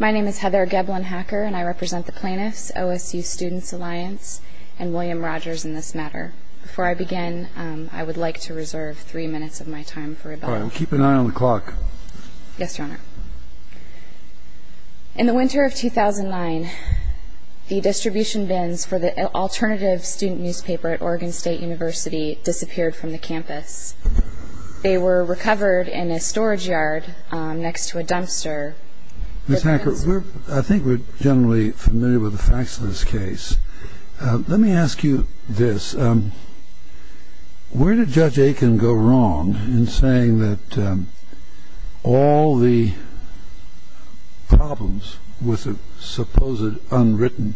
My name is Heather Geblin-Hacker and I represent the plaintiffs, OSU Students Alliance, and William Rogers in this matter. Before I begin, I would like to reserve three minutes of my time for rebuttal. Keep an eye on the clock. Yes, Your Honor. In the winter of 2009, the distribution bins for the alternative student newspaper at Oregon State University disappeared from the campus. They were recovered in a storage yard next to a dumpster. Ms. Hacker, I think we're generally familiar with the facts of this case. Let me ask you this. Where did Judge Aiken go wrong in saying that all the problems with the supposed unwritten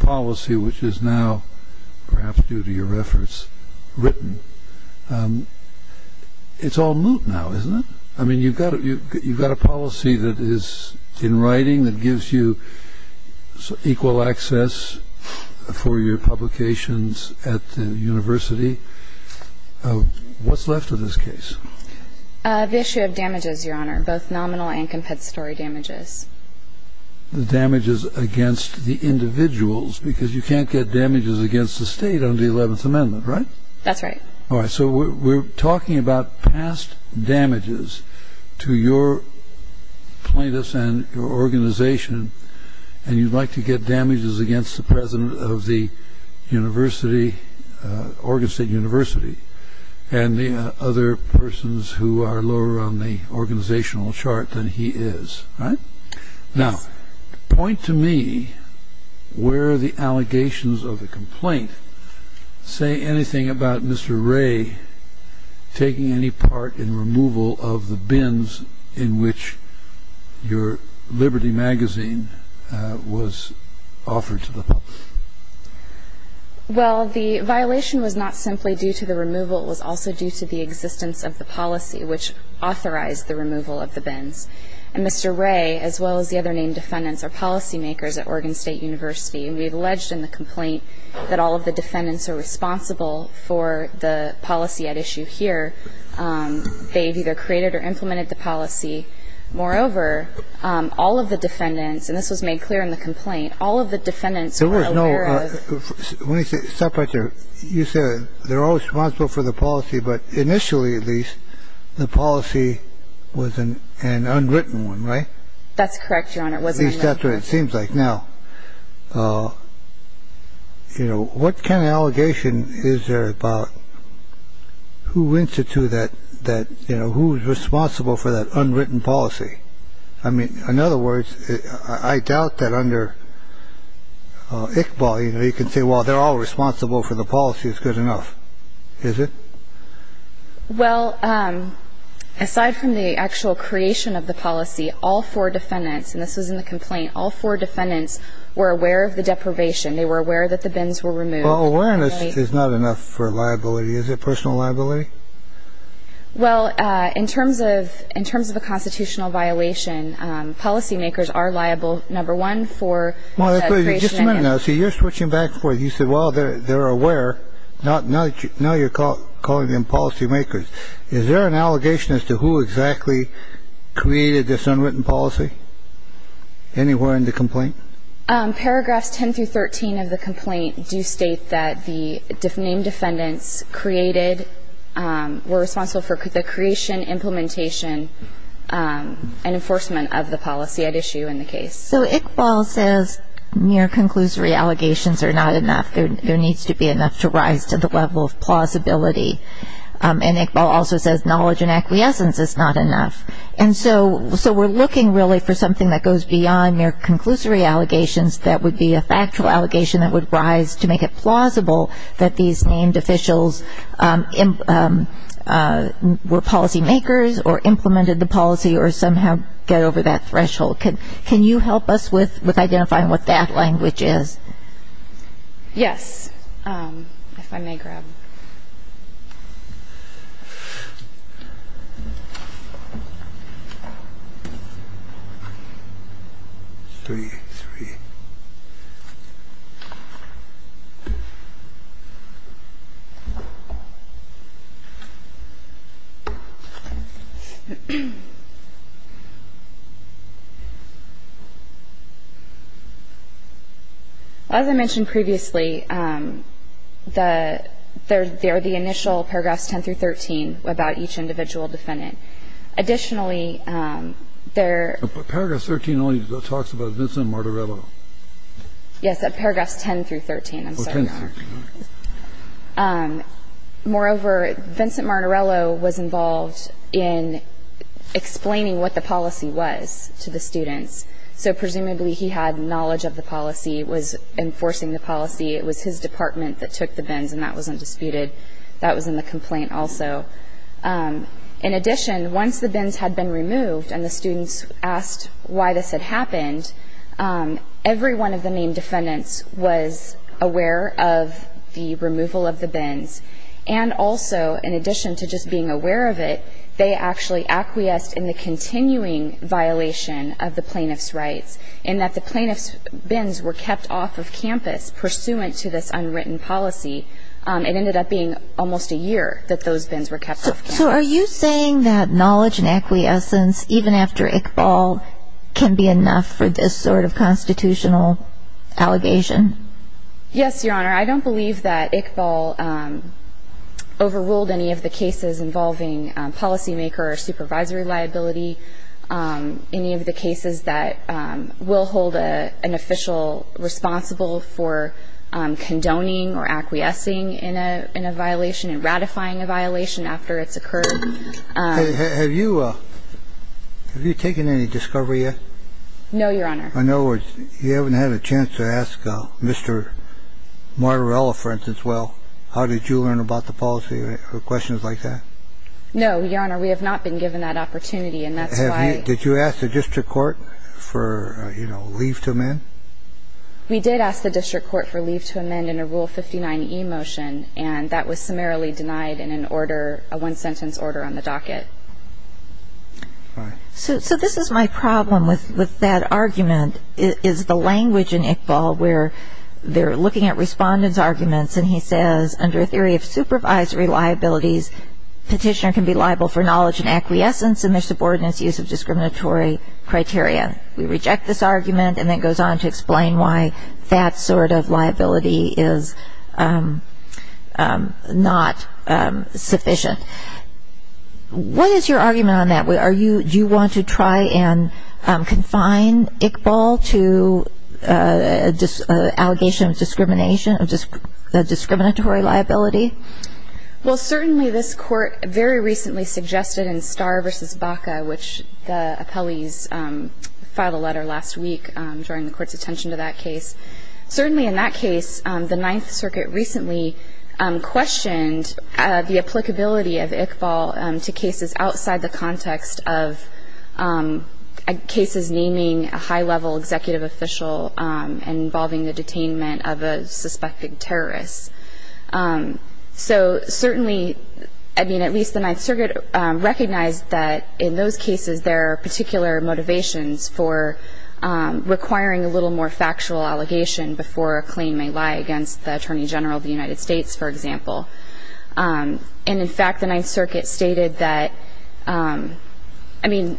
policy, which is now, perhaps due to your efforts, written, it's all moot now, isn't it? I mean, you've got a policy that is in writing that gives you equal access for your publications at the university. What's left of this case? The issue of damages, Your Honor, both nominal and compensatory damages. The damages against the individuals, because you can't get damages against the state under the 11th Amendment, right? That's right. All right, so we're talking about past damages to your plaintiffs and your organization, and you'd like to get damages against the president of the university, Oregon State University, and the other persons who are lower on the organizational chart than he is, right? Now, point to me where the allegations of the complaint say anything about Mr. Ray taking any part in removal of the bins in which your Liberty magazine was offered to the public. Well, the violation was not simply due to the removal. It was also due to the existence of the policy which authorized the removal of the bins. And Mr. Ray, as well as the other named defendants, are policymakers at Oregon State University, and we've alleged in the complaint that all of the defendants are responsible for the policy at issue here. They've either created or implemented the policy. Moreover, all of the defendants, and this was made clear in the complaint, all of the defendants were aware of. There was no. Let me stop right there. You said they're all responsible for the policy, but initially, at least, the policy was an unwritten one, right? That's correct, Your Honor. At least that's what it seems like. Now, you know, what kind of allegation is there about who went to that, you know, who's responsible for that unwritten policy? I mean, in other words, I doubt that under Iqbal, you know, you can say, well, they're all responsible for the policy is good enough. Is it? Well, aside from the actual creation of the policy, all four defendants, and this was in the complaint, all four defendants were aware of the deprivation. They were aware that the bins were removed. Awareness is not enough for liability. Is it personal liability? Well, in terms of in terms of a constitutional violation, policymakers are liable, number one, for. So you're switching back for you said, well, they're aware. Not now. Now you're calling them policymakers. Is there an allegation as to who exactly created this unwritten policy anywhere in the complaint? Paragraphs 10 through 13 of the complaint do state that the name defendants created were responsible for the creation, implementation and enforcement of the policy at issue in the case. So Iqbal says mere conclusory allegations are not enough. There needs to be enough to rise to the level of plausibility. And Iqbal also says knowledge and acquiescence is not enough. And so we're looking really for something that goes beyond mere conclusory allegations that would be a factual allegation that would rise to make it plausible that these named officials were policymakers or implemented the policy or somehow get over that threshold. Can you help us with identifying what that language is? Yes. If I may grab. Three, three. As I mentioned previously, the there are the initial paragraphs 10 through 13 about each individual defendant. Additionally, there. Paragraph 13 only talks about this and Martirello. Yes. Paragraphs 10 through 13. Moreover, Vincent Martirello was involved in explaining what the policy was to the students. So presumably he had knowledge of the policy, was enforcing the policy. It was his department that took the bins and that wasn't disputed. That was in the complaint also. In addition, once the bins had been removed and the students asked why this had happened, every one of the main defendants was aware of the removal of the bins. And also, in addition to just being aware of it, they actually acquiesced in the continuing violation of the plaintiff's rights, in that the plaintiff's bins were kept off of campus pursuant to this unwritten policy. It ended up being almost a year that those bins were kept. So are you saying that knowledge and acquiescence, even after Iqbal, can be enough for this sort of constitutional allegation? Yes, Your Honor. I don't believe that Iqbal overruled any of the cases involving policymaker or supervisory liability, any of the cases that will hold an official responsible for condoning or acquiescing in a violation and ratifying a violation after it's occurred. Have you taken any discovery yet? No, Your Honor. In other words, you haven't had a chance to ask Mr. Martorella, for instance, well, how did you learn about the policy or questions like that? No, Your Honor. We have not been given that opportunity. Did you ask the district court for leave to amend? We did ask the district court for leave to amend in a Rule 59e motion, and that was summarily denied in an order, a one-sentence order on the docket. So this is my problem with that argument is the language in Iqbal where they're looking at respondents' arguments, and he says under a theory of supervisory liabilities, petitioner can be liable for knowledge and acquiescence in their subordinates' use of discriminatory criteria. We reject this argument, and then it goes on to explain why that sort of liability is not sufficient. What is your argument on that? Do you want to try and confine Iqbal to an allegation of discrimination, a discriminatory liability? Well, certainly this Court very recently suggested in Starr v. Baca, which the appellees filed a letter last week drawing the Court's attention to that case. Certainly in that case, the Ninth Circuit recently questioned the applicability of Iqbal to cases outside the context of cases naming a high-level executive official and involving the detainment of a suspected terrorist. So certainly, I mean, at least the Ninth Circuit recognized that in those cases there are particular motivations for requiring a little more factual allegation before a claim may lie against the Attorney General of the United States, for example. And in fact, the Ninth Circuit stated that, I mean,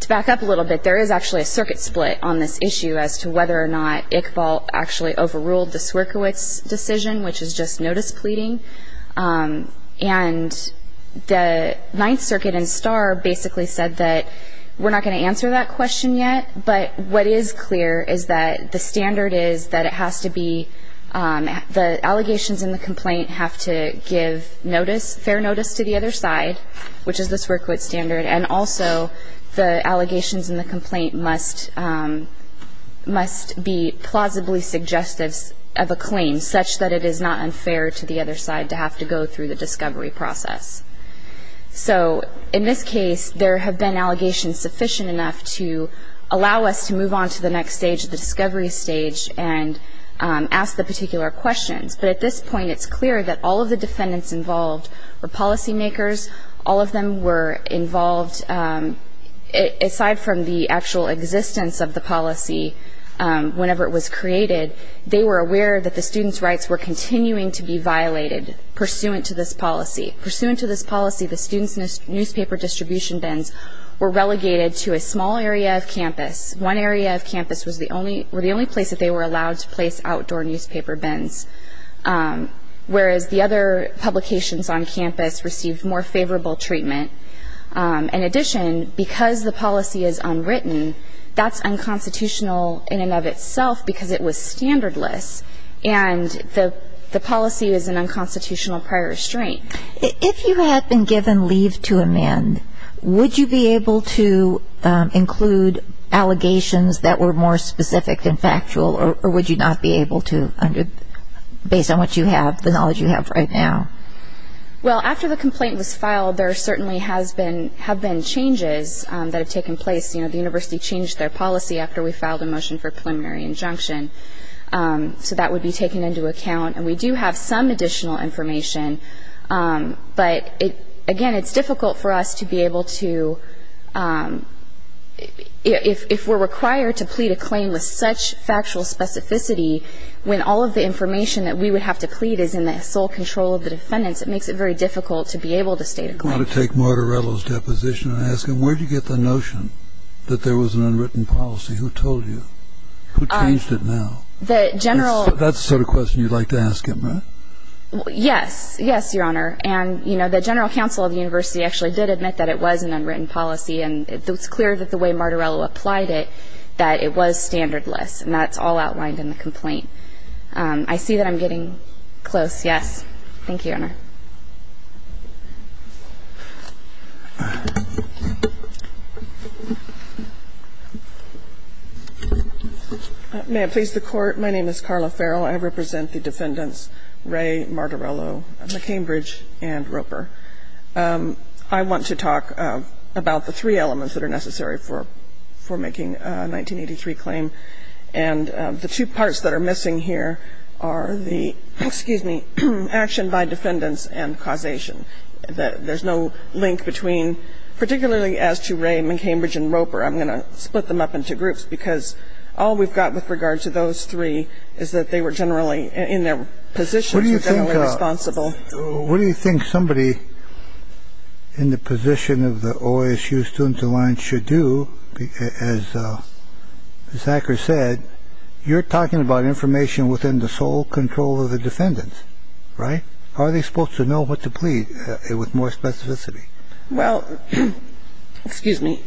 to back up a little bit, there is actually a circuit split on this issue as to whether or not Iqbal actually overruled the Swierkiewicz decision, which is just notice pleading. And the Ninth Circuit in Starr basically said that we're not going to answer that question yet, but what is clear is that the standard is that it has to be the allegations in the complaint have to give notice, fair notice to the other side, which is the Swierkiewicz standard, and also the allegations in the complaint must be plausibly suggestive of a claim such that it is not unfair to the other side to have to go through the discovery process. So in this case, there have been allegations sufficient enough to allow us to move on to the next stage, the discovery stage, and ask the particular questions. But at this point, it's clear that all of the defendants involved were policymakers. All of them were involved. Aside from the actual existence of the policy whenever it was created, they were aware that the students' rights were continuing to be violated pursuant to this policy. Pursuant to this policy, the students' newspaper distribution bins were relegated to a small area of campus. One area of campus was the only place that they were allowed to place outdoor newspaper bins, whereas the other publications on campus received more favorable treatment. In addition, because the policy is unwritten, that's unconstitutional in and of itself because it was standardless, and the policy is an unconstitutional prior restraint. If you had been given leave to amend, would you be able to include allegations that were more specific than factual, or would you not be able to based on what you have, the knowledge you have right now? Well, after the complaint was filed, there certainly have been changes that have taken place. You know, the university changed their policy after we filed a motion for preliminary injunction, so that would be taken into account. And we do have some additional information, but, again, it's difficult for us to be able to – if we're required to plead a claim with such factual specificity when all of the information that we would have to plead is in the sole control of the defendants, it makes it very difficult to be able to state a claim. I want to take Martorello's deposition and ask him, where did you get the notion that there was an unwritten policy? Who told you? Who changed it now? That's the sort of question you'd like to ask him, right? Yes. Yes, Your Honor. And, you know, the general counsel of the university actually did admit that it was an unwritten policy, and it's clear that the way Martorello applied it, that it was standardless, and that's all outlined in the complaint. I see that I'm getting close. Yes. Thank you, Your Honor. May it please the Court. My name is Carla Farrell. I represent the defendants Ray, Martorello, McCambridge, and Roper. I want to talk about the three elements that are necessary for making a 1983 claim, and the two parts that are missing here are the, excuse me, action by defendants and causation. There's no link between, particularly as to Ray, McCambridge, and Roper. I'm going to split them up into groups, because all we've got with regard to those three is that they were generally in their positions. They were generally responsible. What do you think somebody in the position of the OASU student alliance should do? As Zachary said, you're talking about information within the sole control of the defendants, right? Are they supposed to know what to plead with more specificity? Well, excuse me,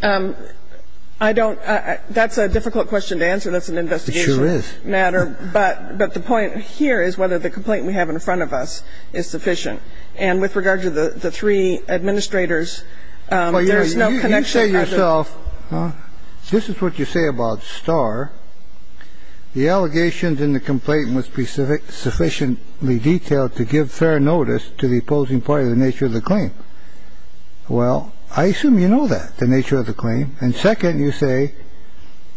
I don't – that's a difficult question to answer. That's an investigation matter. It sure is. But the point here is whether the complaint we have in front of us is sufficient. And with regard to the three administrators, there's no connection. You say yourself, this is what you say about Starr. The allegations in the complaint must be specific, sufficiently detailed to give fair notice to the opposing party. The nature of the claim. Well, I assume you know that the nature of the claim. And second, you say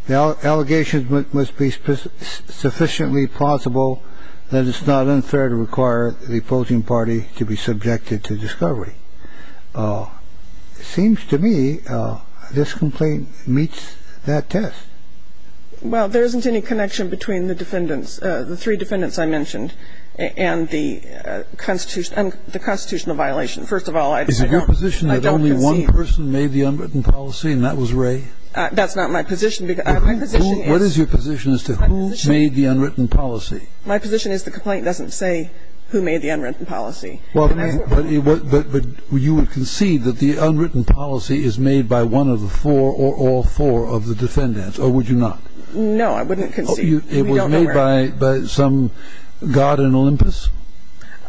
the allegations must be sufficiently plausible that it's not unfair to require the opposing party to be subjected to discovery. It's not clear that the defendant is the one who made the unwritten policy. It seems to me this complaint meets that test. Well, there isn't any connection between the three defendants I mentioned and the constitutional violation. First of all, I don't concede. Is it your position that only one person made the unwritten policy and that was Wray? That's not my position. What is your position as to who made the unwritten policy? My position is the complaint doesn't say who made the unwritten policy. But you would concede that the unwritten policy is made by one of the four or all four of the defendants, or would you not? No, I wouldn't concede. It was made by some god in Olympus?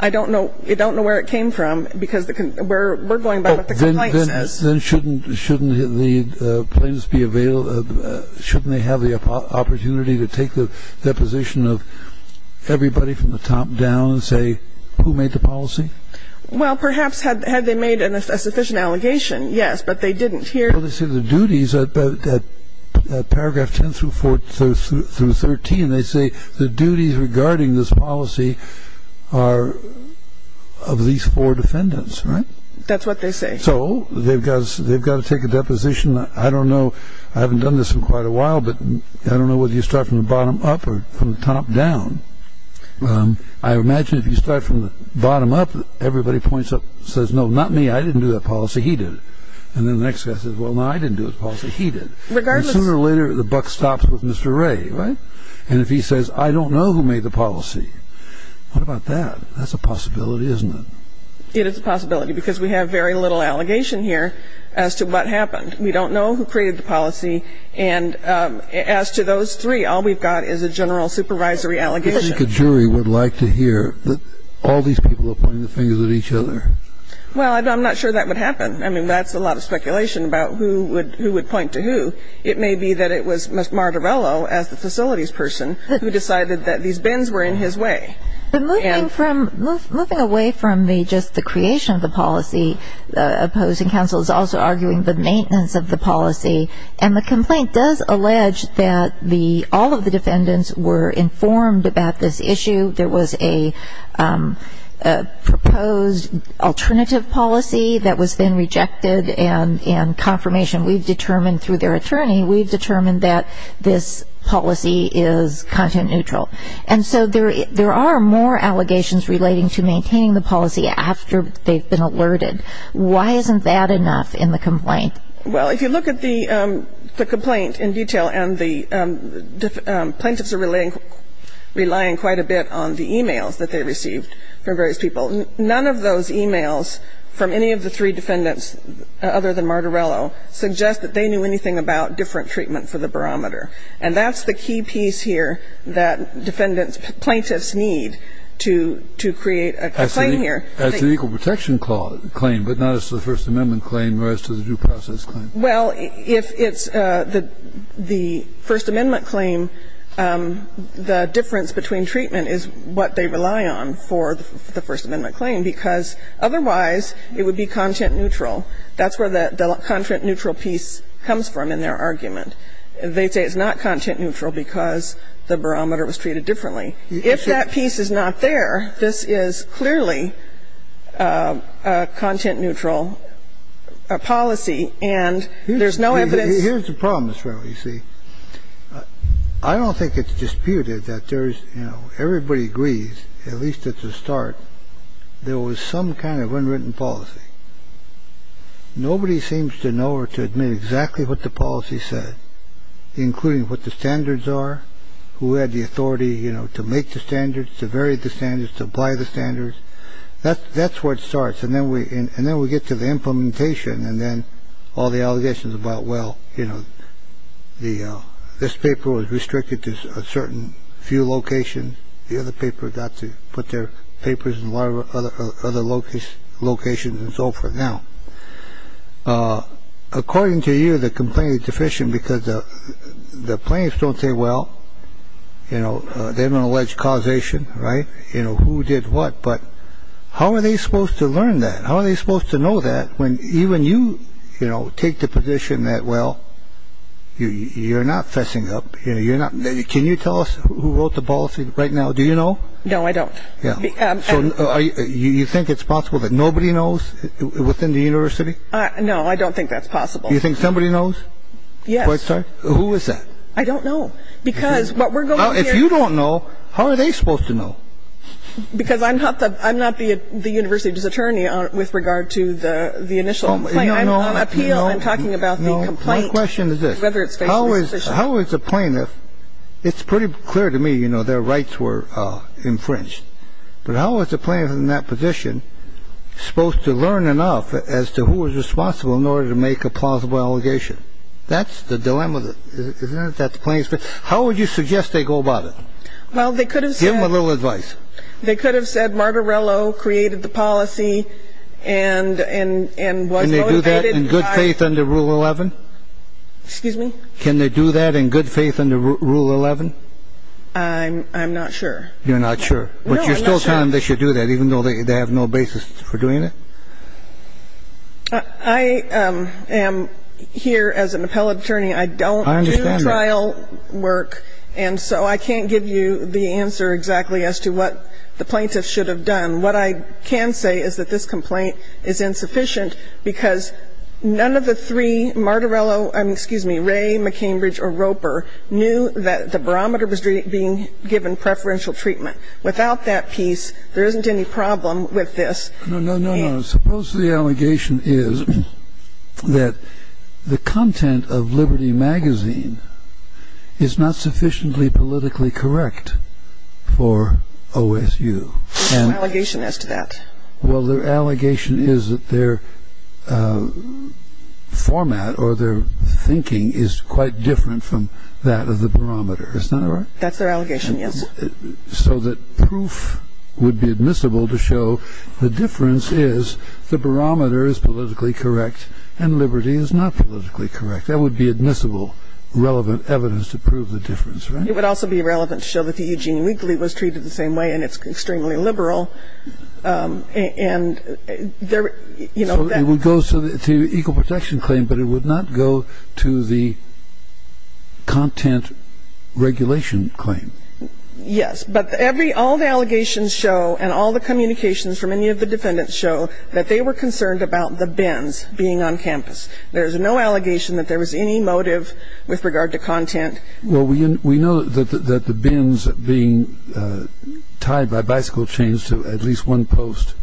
I don't know where it came from because we're going by what the complaint says. Then shouldn't the plaintiffs be available, shouldn't they have the opportunity to take the deposition of everybody from the top down and say who made the policy? Well, perhaps had they made a sufficient allegation, yes. But they didn't here. Well, they say the duties at paragraph 10 through 13, they say the duties regarding this policy are of these four defendants, right? That's what they say. So they've got to take a deposition. I don't know. I haven't done this in quite a while, but I don't know whether you start from the bottom up or from the top down. I imagine if you start from the bottom up, everybody points up, says, no, not me, I didn't do that policy, he did. And then the next guy says, well, no, I didn't do the policy, he did. And sooner or later, the buck stops with Mr. Wray, right? And if he says, I don't know who made the policy, what about that? That's a possibility, isn't it? It is a possibility because we have very little allegation here as to what happened. We don't know who created the policy. And as to those three, all we've got is a general supervisory allegation. I think a jury would like to hear that all these people are pointing the fingers at each other. Well, I'm not sure that would happen. I mean, that's a lot of speculation about who would point to who. It may be that it was Mr. Martorello, as the facilities person, who decided that these bins were in his way. But moving away from just the creation of the policy, opposing counsel is also arguing the maintenance of the policy. And the complaint does allege that all of the defendants were informed about this issue. There was a proposed alternative policy that was then rejected and confirmation. We've determined through their attorney, we've determined that this policy is content neutral. And so there are more allegations relating to maintaining the policy after they've been alerted. Why isn't that enough in the complaint? Well, if you look at the complaint in detail, and the plaintiffs are relying quite a bit on the e-mails that they received from various people, none of those e-mails from any of the three defendants other than Martorello suggest that they knew anything about different treatment for the barometer. And that's the key piece here that defendants, plaintiffs need to create a claim here. As an equal protection claim, but not as to the First Amendment claim or as to the due process claim. Well, if it's the First Amendment claim, the difference between treatment is what they rely on for the First Amendment claim, because otherwise it would be content neutral. That's where the content neutral piece comes from in their argument. They say it's not content neutral because the barometer was treated differently. If that piece is not there, this is clearly a content neutral policy, and there's no evidence. Here's the problem, Ms. Rowe, you see. I don't think it's disputed that there's, you know, everybody agrees, at least at the start, there was some kind of unwritten policy. Nobody seems to know or to admit exactly what the policy said, including what the standards are, who had the authority, you know, to make the standards, to vary the standards, to apply the standards. That's where it starts. And then we and then we get to the implementation. And then all the allegations about, well, you know, the this paper was restricted to a certain few locations. The other paper got to put their papers in other locations and so forth. Now, according to you, the complaint is deficient because the plaintiffs don't say, well, you know, they don't allege causation. Right. You know who did what. But how are they supposed to learn that? How are they supposed to know that when even you, you know, take the position that, well, you're not fessing up. You know, you're not. Can you tell us who wrote the policy right now? Do you know? No, I don't. You think it's possible that nobody knows within the university? No, I don't think that's possible. You think somebody knows? Yes. Who is that? I don't know. Because if you don't know, how are they supposed to know? Because I'm not the I'm not the university's attorney with regard to the initial appeal. I'm talking about my question is whether it's how is how is a plaintiff? It's pretty clear to me, you know, their rights were infringed. But how is the plaintiff in that position supposed to learn enough as to who is responsible in order to make a plausible allegation? That's the dilemma. Isn't that the place? How would you suggest they go about it? Well, they could have given a little advice. They could have said Martorello created the policy and and and was motivated in good faith under Rule 11. Excuse me. Can they do that in good faith under Rule 11? I'm I'm not sure. You're not sure. But you're still telling them they should do that, even though they have no basis for doing it. I am here as an appellate attorney. I don't do trial work. I understand that. And so I can't give you the answer exactly as to what the plaintiff should have done. What I can say is that this complaint is insufficient because none of the three, Martorello excuse me, Ray, McCambridge or Roper knew that the barometer was being given preferential treatment. Without that piece, there isn't any problem with this. No, no, no, no. Suppose the allegation is that the content of Liberty magazine is not sufficiently politically correct for OSU. Allegation as to that. Well, their allegation is that their format or their thinking is quite different from that of the barometer. That's their allegation. So that proof would be admissible to show the difference is the barometer is politically correct and Liberty is not politically correct. That would be admissible, relevant evidence to prove the difference. It would also be relevant to show that the Eugene Weekly was treated the same way and it's extremely liberal. And there, you know. It would go to the equal protection claim, but it would not go to the content regulation claim. Yes, but every all the allegations show and all the communications from any of the defendants show that they were concerned about the bins being on campus. There is no allegation that there was any motive with regard to content. Well, we know that the bins being tied by bicycle chains to at least one post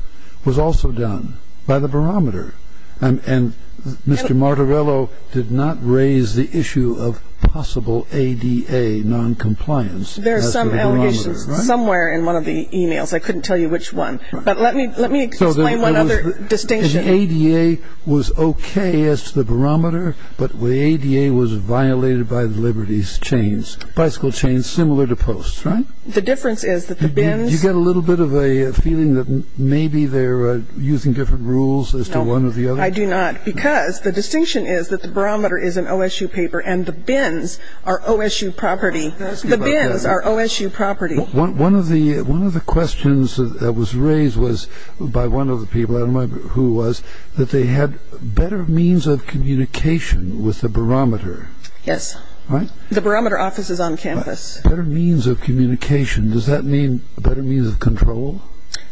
was also done by the barometer. And Mr. Martorello did not raise the issue of possible ADA noncompliance. There are some allegations somewhere in one of the emails. I couldn't tell you which one. But let me let me explain one other distinction. The ADA was OK as to the barometer, but the ADA was violated by the Liberty's chains, bicycle chains similar to posts, right? The difference is that the bins. You get a little bit of a feeling that maybe they're using different rules as to one or the other. I do not because the distinction is that the barometer is an OSU paper and the bins are OSU property. The bins are OSU property. One of the one of the questions that was raised was by one of the people who was that they had better means of communication with the barometer. Yes. Right. The barometer offices on campus. Better means of communication. Does that mean better means of control?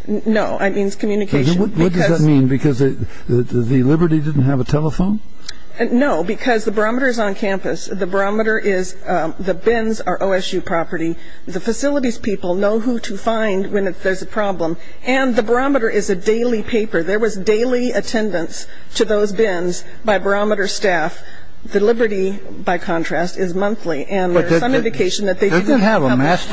No. I mean, it's communication. What does that mean? Because the Liberty didn't have a telephone. No, because the barometer is on campus. The barometer is the bins are OSU property. The facilities people know who to find when there's a problem. And the barometer is a daily paper. There was daily attendance to those bins by barometer staff. The Liberty, by contrast, is monthly. And there's some indication that they didn't have a month.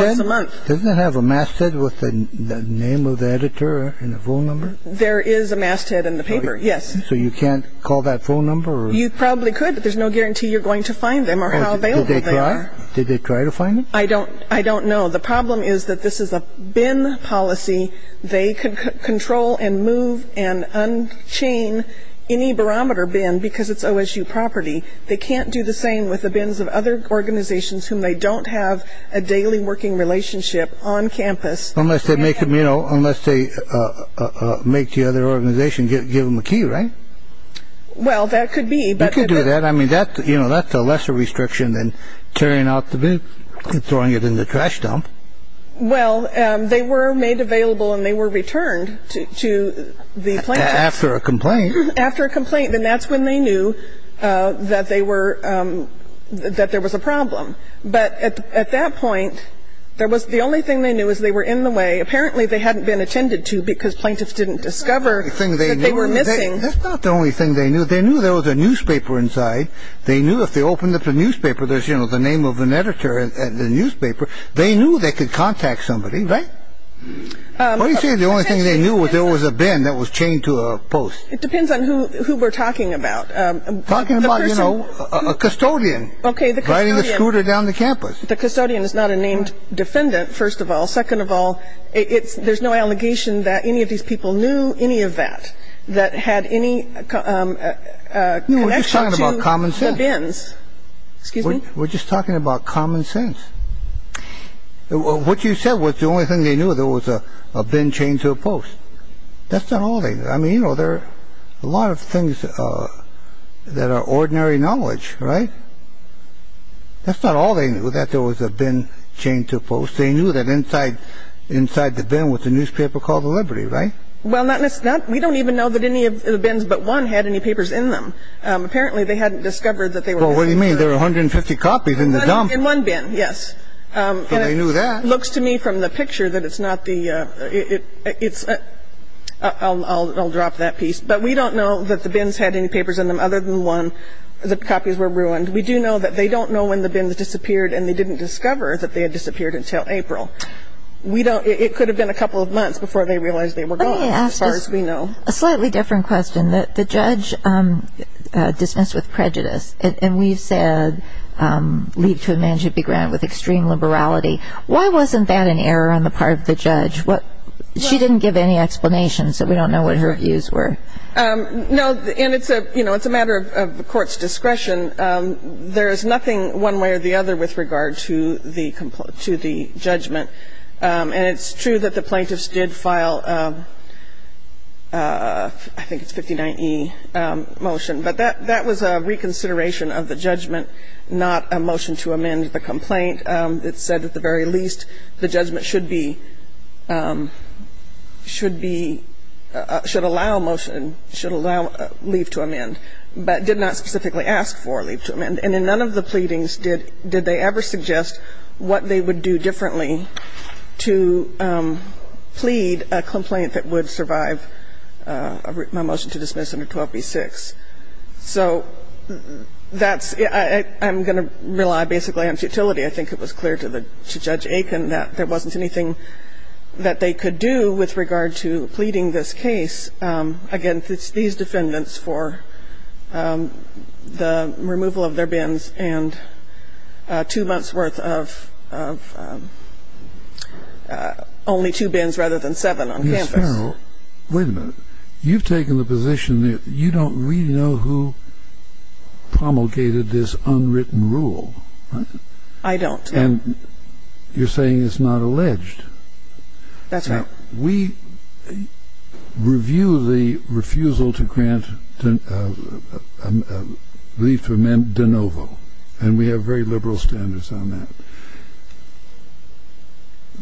Doesn't it have a masthead with the name of the editor and the phone number? There is a masthead in the paper. Yes. So you can't call that phone number? You probably could, but there's no guarantee you're going to find them or how they are. Did they try to find it? I don't I don't know. The problem is that this is a bin policy. They can control and move and unchain any barometer bin because it's OSU property. They can't do the same with the bins of other organizations whom they don't have a daily working relationship on campus. Unless they make them, you know, unless they make the other organization give them a key. Right. Well, that could be. You could do that. I mean, that's you know, that's a lesser restriction than tearing out the bin and throwing it in the trash dump. Well, they were made available and they were returned to the plan after a complaint. After a complaint. And that's when they knew that they were that there was a problem. But at that point, there was the only thing they knew is they were in the way. Apparently they hadn't been attended to because plaintiffs didn't discover the thing they were missing. That's not the only thing they knew. They knew there was a newspaper inside. They knew if they opened up the newspaper, there's, you know, the name of an editor at the newspaper. They knew they could contact somebody. Right. You see, the only thing they knew was there was a bin that was chained to a post. It depends on who we're talking about. Talking about, you know, a custodian. OK. The scooter down the campus. The custodian is not a named defendant. First of all. Second of all, it's there's no allegation that any of these people knew any of that. That had any. Common sense. Excuse me. We're just talking about common sense. What you said was the only thing they knew there was a bin chained to a post. That's not all. I mean, you know, there are a lot of things that are ordinary knowledge. Right. That's not all. They knew that there was a bin chained to a post. They knew that inside inside the bin was a newspaper called the Liberty. Right. Well, that's not we don't even know that any of the bins but one had any papers in them. Apparently they hadn't discovered that they were. What do you mean? There are 150 copies in the dump in one bin. Yes. They knew that looks to me from the picture that it's not the it's I'll drop that piece. But we don't know that the bins had any papers in them other than one. The copies were ruined. We do know that they don't know when the bins disappeared and they didn't discover that they had disappeared until April. We don't. It could have been a couple of months before they realized they were going as far as we know. A slightly different question that the judge dismissed with prejudice. And we said leave to a man should be granted with extreme liberality. Why wasn't that an error on the part of the judge? What she didn't give any explanation. So we don't know what her views were. No. And it's a you know, it's a matter of the court's discretion. There is nothing one way or the other with regard to the complaint to the judgment. And it's true that the plaintiffs did file. I think it's 59 e motion. But that that was a reconsideration of the judgment, not a motion to amend the complaint. It said at the very least the judgment should be should be should allow motion and should allow leave to amend. But did not specifically ask for leave to amend. And in none of the pleadings did they ever suggest what they would do differently to plead a complaint that would survive my motion to dismiss under 12b-6. So that's I'm going to rely basically on futility. I think it was clear to the to Judge Aiken that there wasn't anything that they could do with regard to pleading this case. So I'm going to rely on futility. And I'm going to rely on the defendant's defense against these defendants for the removal of their bins and two months worth of only two bins rather than seven on campus. Wait a minute. You've taken the position that you don't really know who promulgated this unwritten rule. I don't. And you're saying it's not alleged. That's right. We review the refusal to grant leave to amend de novo. And we have very liberal standards on that. I'm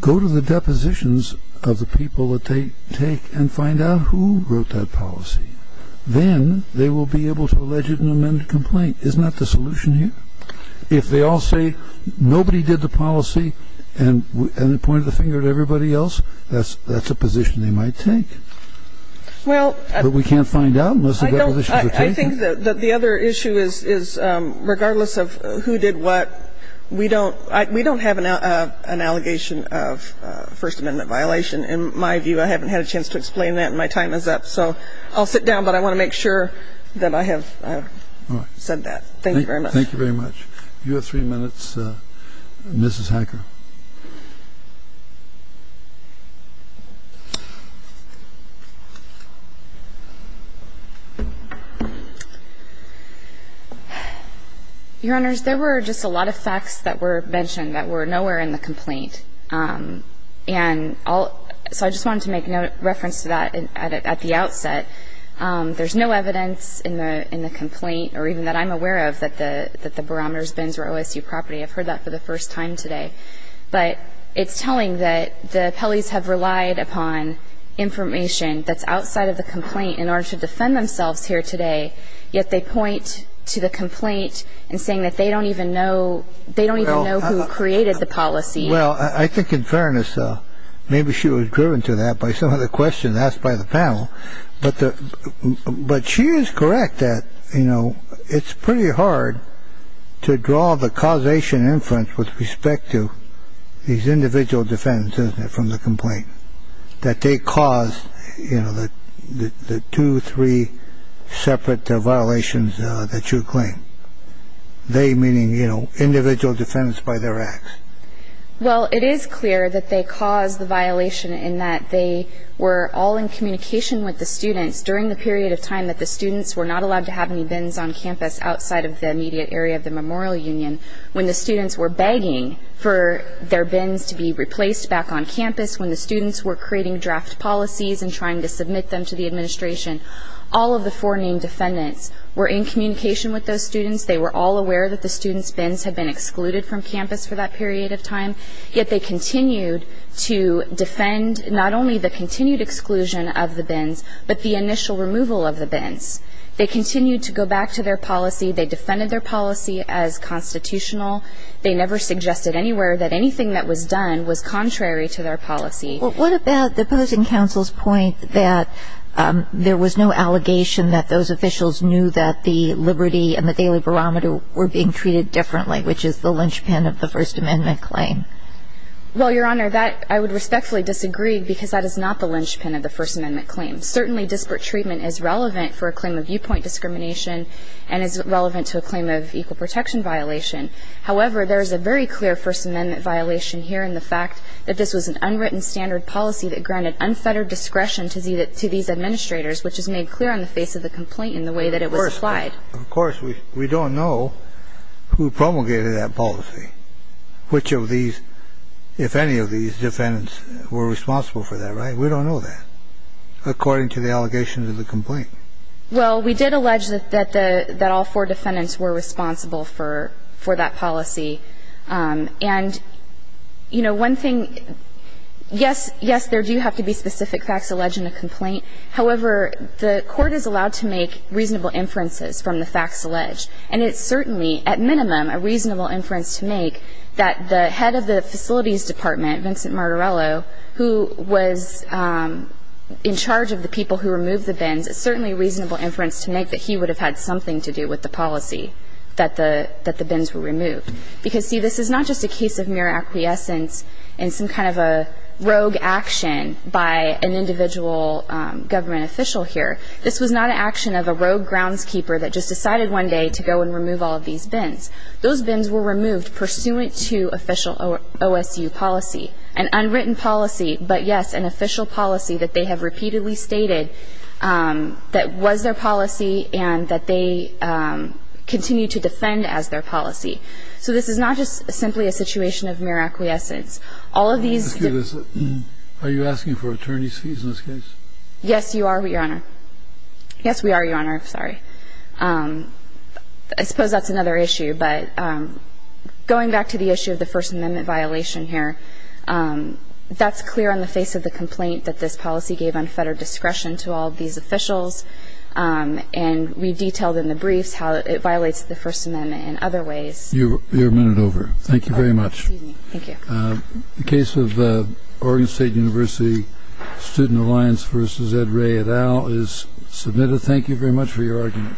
going to rely on futility. And I'm going to rely on the defendant's defense against these defendants for the removal of their bins. And I'm going to rely on the defendant's defense against these defendants for the removal of their bins. If they all go to the depositions of the people that they take and find out who wrote that policy, then they will be able to allege it and amend the complaint. Isn't that the solution here? If they all say nobody did the policy and point the finger at everybody else, that's a position they might take. But we can't find out unless the depositions are taken. I think that the other issue is regardless of who did what, we don't have an allegation of First Amendment violation. In my view, I haven't had a chance to explain that, and my time is up. So I'll sit down, but I want to make sure that I have said that. Thank you very much. Thank you very much. You have three minutes, Mrs. Hacker. Your Honors, there were just a lot of facts that were mentioned that were nowhere in the complaint. And so I just wanted to make reference to that at the outset. There's no evidence in the complaint or even that I'm aware of that the barometers bins were OSU property. I've heard that for the first time today. But it's telling that the appellees have relied upon information that's outside of the complaint in order to defend themselves here today, yet they point to the complaint and saying that they don't even know who created the policy. Well, I think in fairness, maybe she was driven to that by some of the questions asked by the panel. But she is correct that, you know, it's pretty hard to draw the causation inference with respect to these individual defendants from the complaint, that they caused the two, three separate violations that you claim. They meaning, you know, individual defendants by their acts. Well, it is clear that they caused the violation in that they were all in communication with the students during the period of time that the students were not allowed to have any bins on campus outside of the immediate area of the Memorial Union. When the students were begging for their bins to be replaced back on campus, when the students were creating draft policies and trying to submit them to the administration, all of the four named defendants were in communication with those students. They were all aware that the students' bins had been excluded from campus for that period of time, yet they continued to defend not only the continued exclusion of the bins, but the initial removal of the bins. They continued to go back to their policy. They defended their policy as constitutional. They never suggested anywhere that anything that was done was contrary to their policy. Well, what about opposing counsel's point that there was no allegation that those officials knew that the Liberty and the Daily Barometer were being treated differently, which is the linchpin of the First Amendment claim? Well, Your Honor, that I would respectfully disagree because that is not the linchpin of the First Amendment claim. Certainly, disparate treatment is relevant for a claim of viewpoint discrimination and is relevant to a claim of equal protection violation. However, there is a very clear First Amendment violation here in the fact that this was an unwritten standard policy that granted unfettered discretion to these administrators, which is made clear on the face of the complaint in the way that it was applied. Of course, we don't know who promulgated that policy, which of these, if any of these defendants were responsible for that, right? We don't know that, according to the allegations of the complaint. Well, we did allege that all four defendants were responsible for that policy. And, you know, one thing, yes, yes, there do have to be specific facts alleged in a complaint. However, the Court is allowed to make reasonable inferences from the facts alleged. And it's certainly, at minimum, a reasonable inference to make that the head of the Facilities Department, Vincent Martorello, who was in charge of the people who removed the bins, it's certainly a reasonable inference to make that he would have had something to do with the policy that the bins were removed. Because, see, this is not just a case of mere acquiescence in some kind of a rogue action by an individual government official here. This was not an action of a rogue groundskeeper that just decided one day to go and remove all of these bins. Those bins were removed pursuant to official OSU policy, an unwritten policy, but, yes, an official policy that they have repeatedly stated that was their policy and that they continue to defend as their policy. So this is not just simply a situation of mere acquiescence. All of these ---- Are you asking for attorney's fees in this case? Yes, Your Honor. Yes, we are, Your Honor. I'm sorry. I suppose that's another issue. But going back to the issue of the First Amendment violation here, that's clear on the face of the complaint that this policy gave unfettered discretion to all of these officials. And we detailed in the briefs how it violates the First Amendment in other ways. You're a minute over. Thank you very much. Excuse me. Thank you. The case of Oregon State University Student Alliance v. Ed Ray et al. is submitted. Thank you very much for your argument.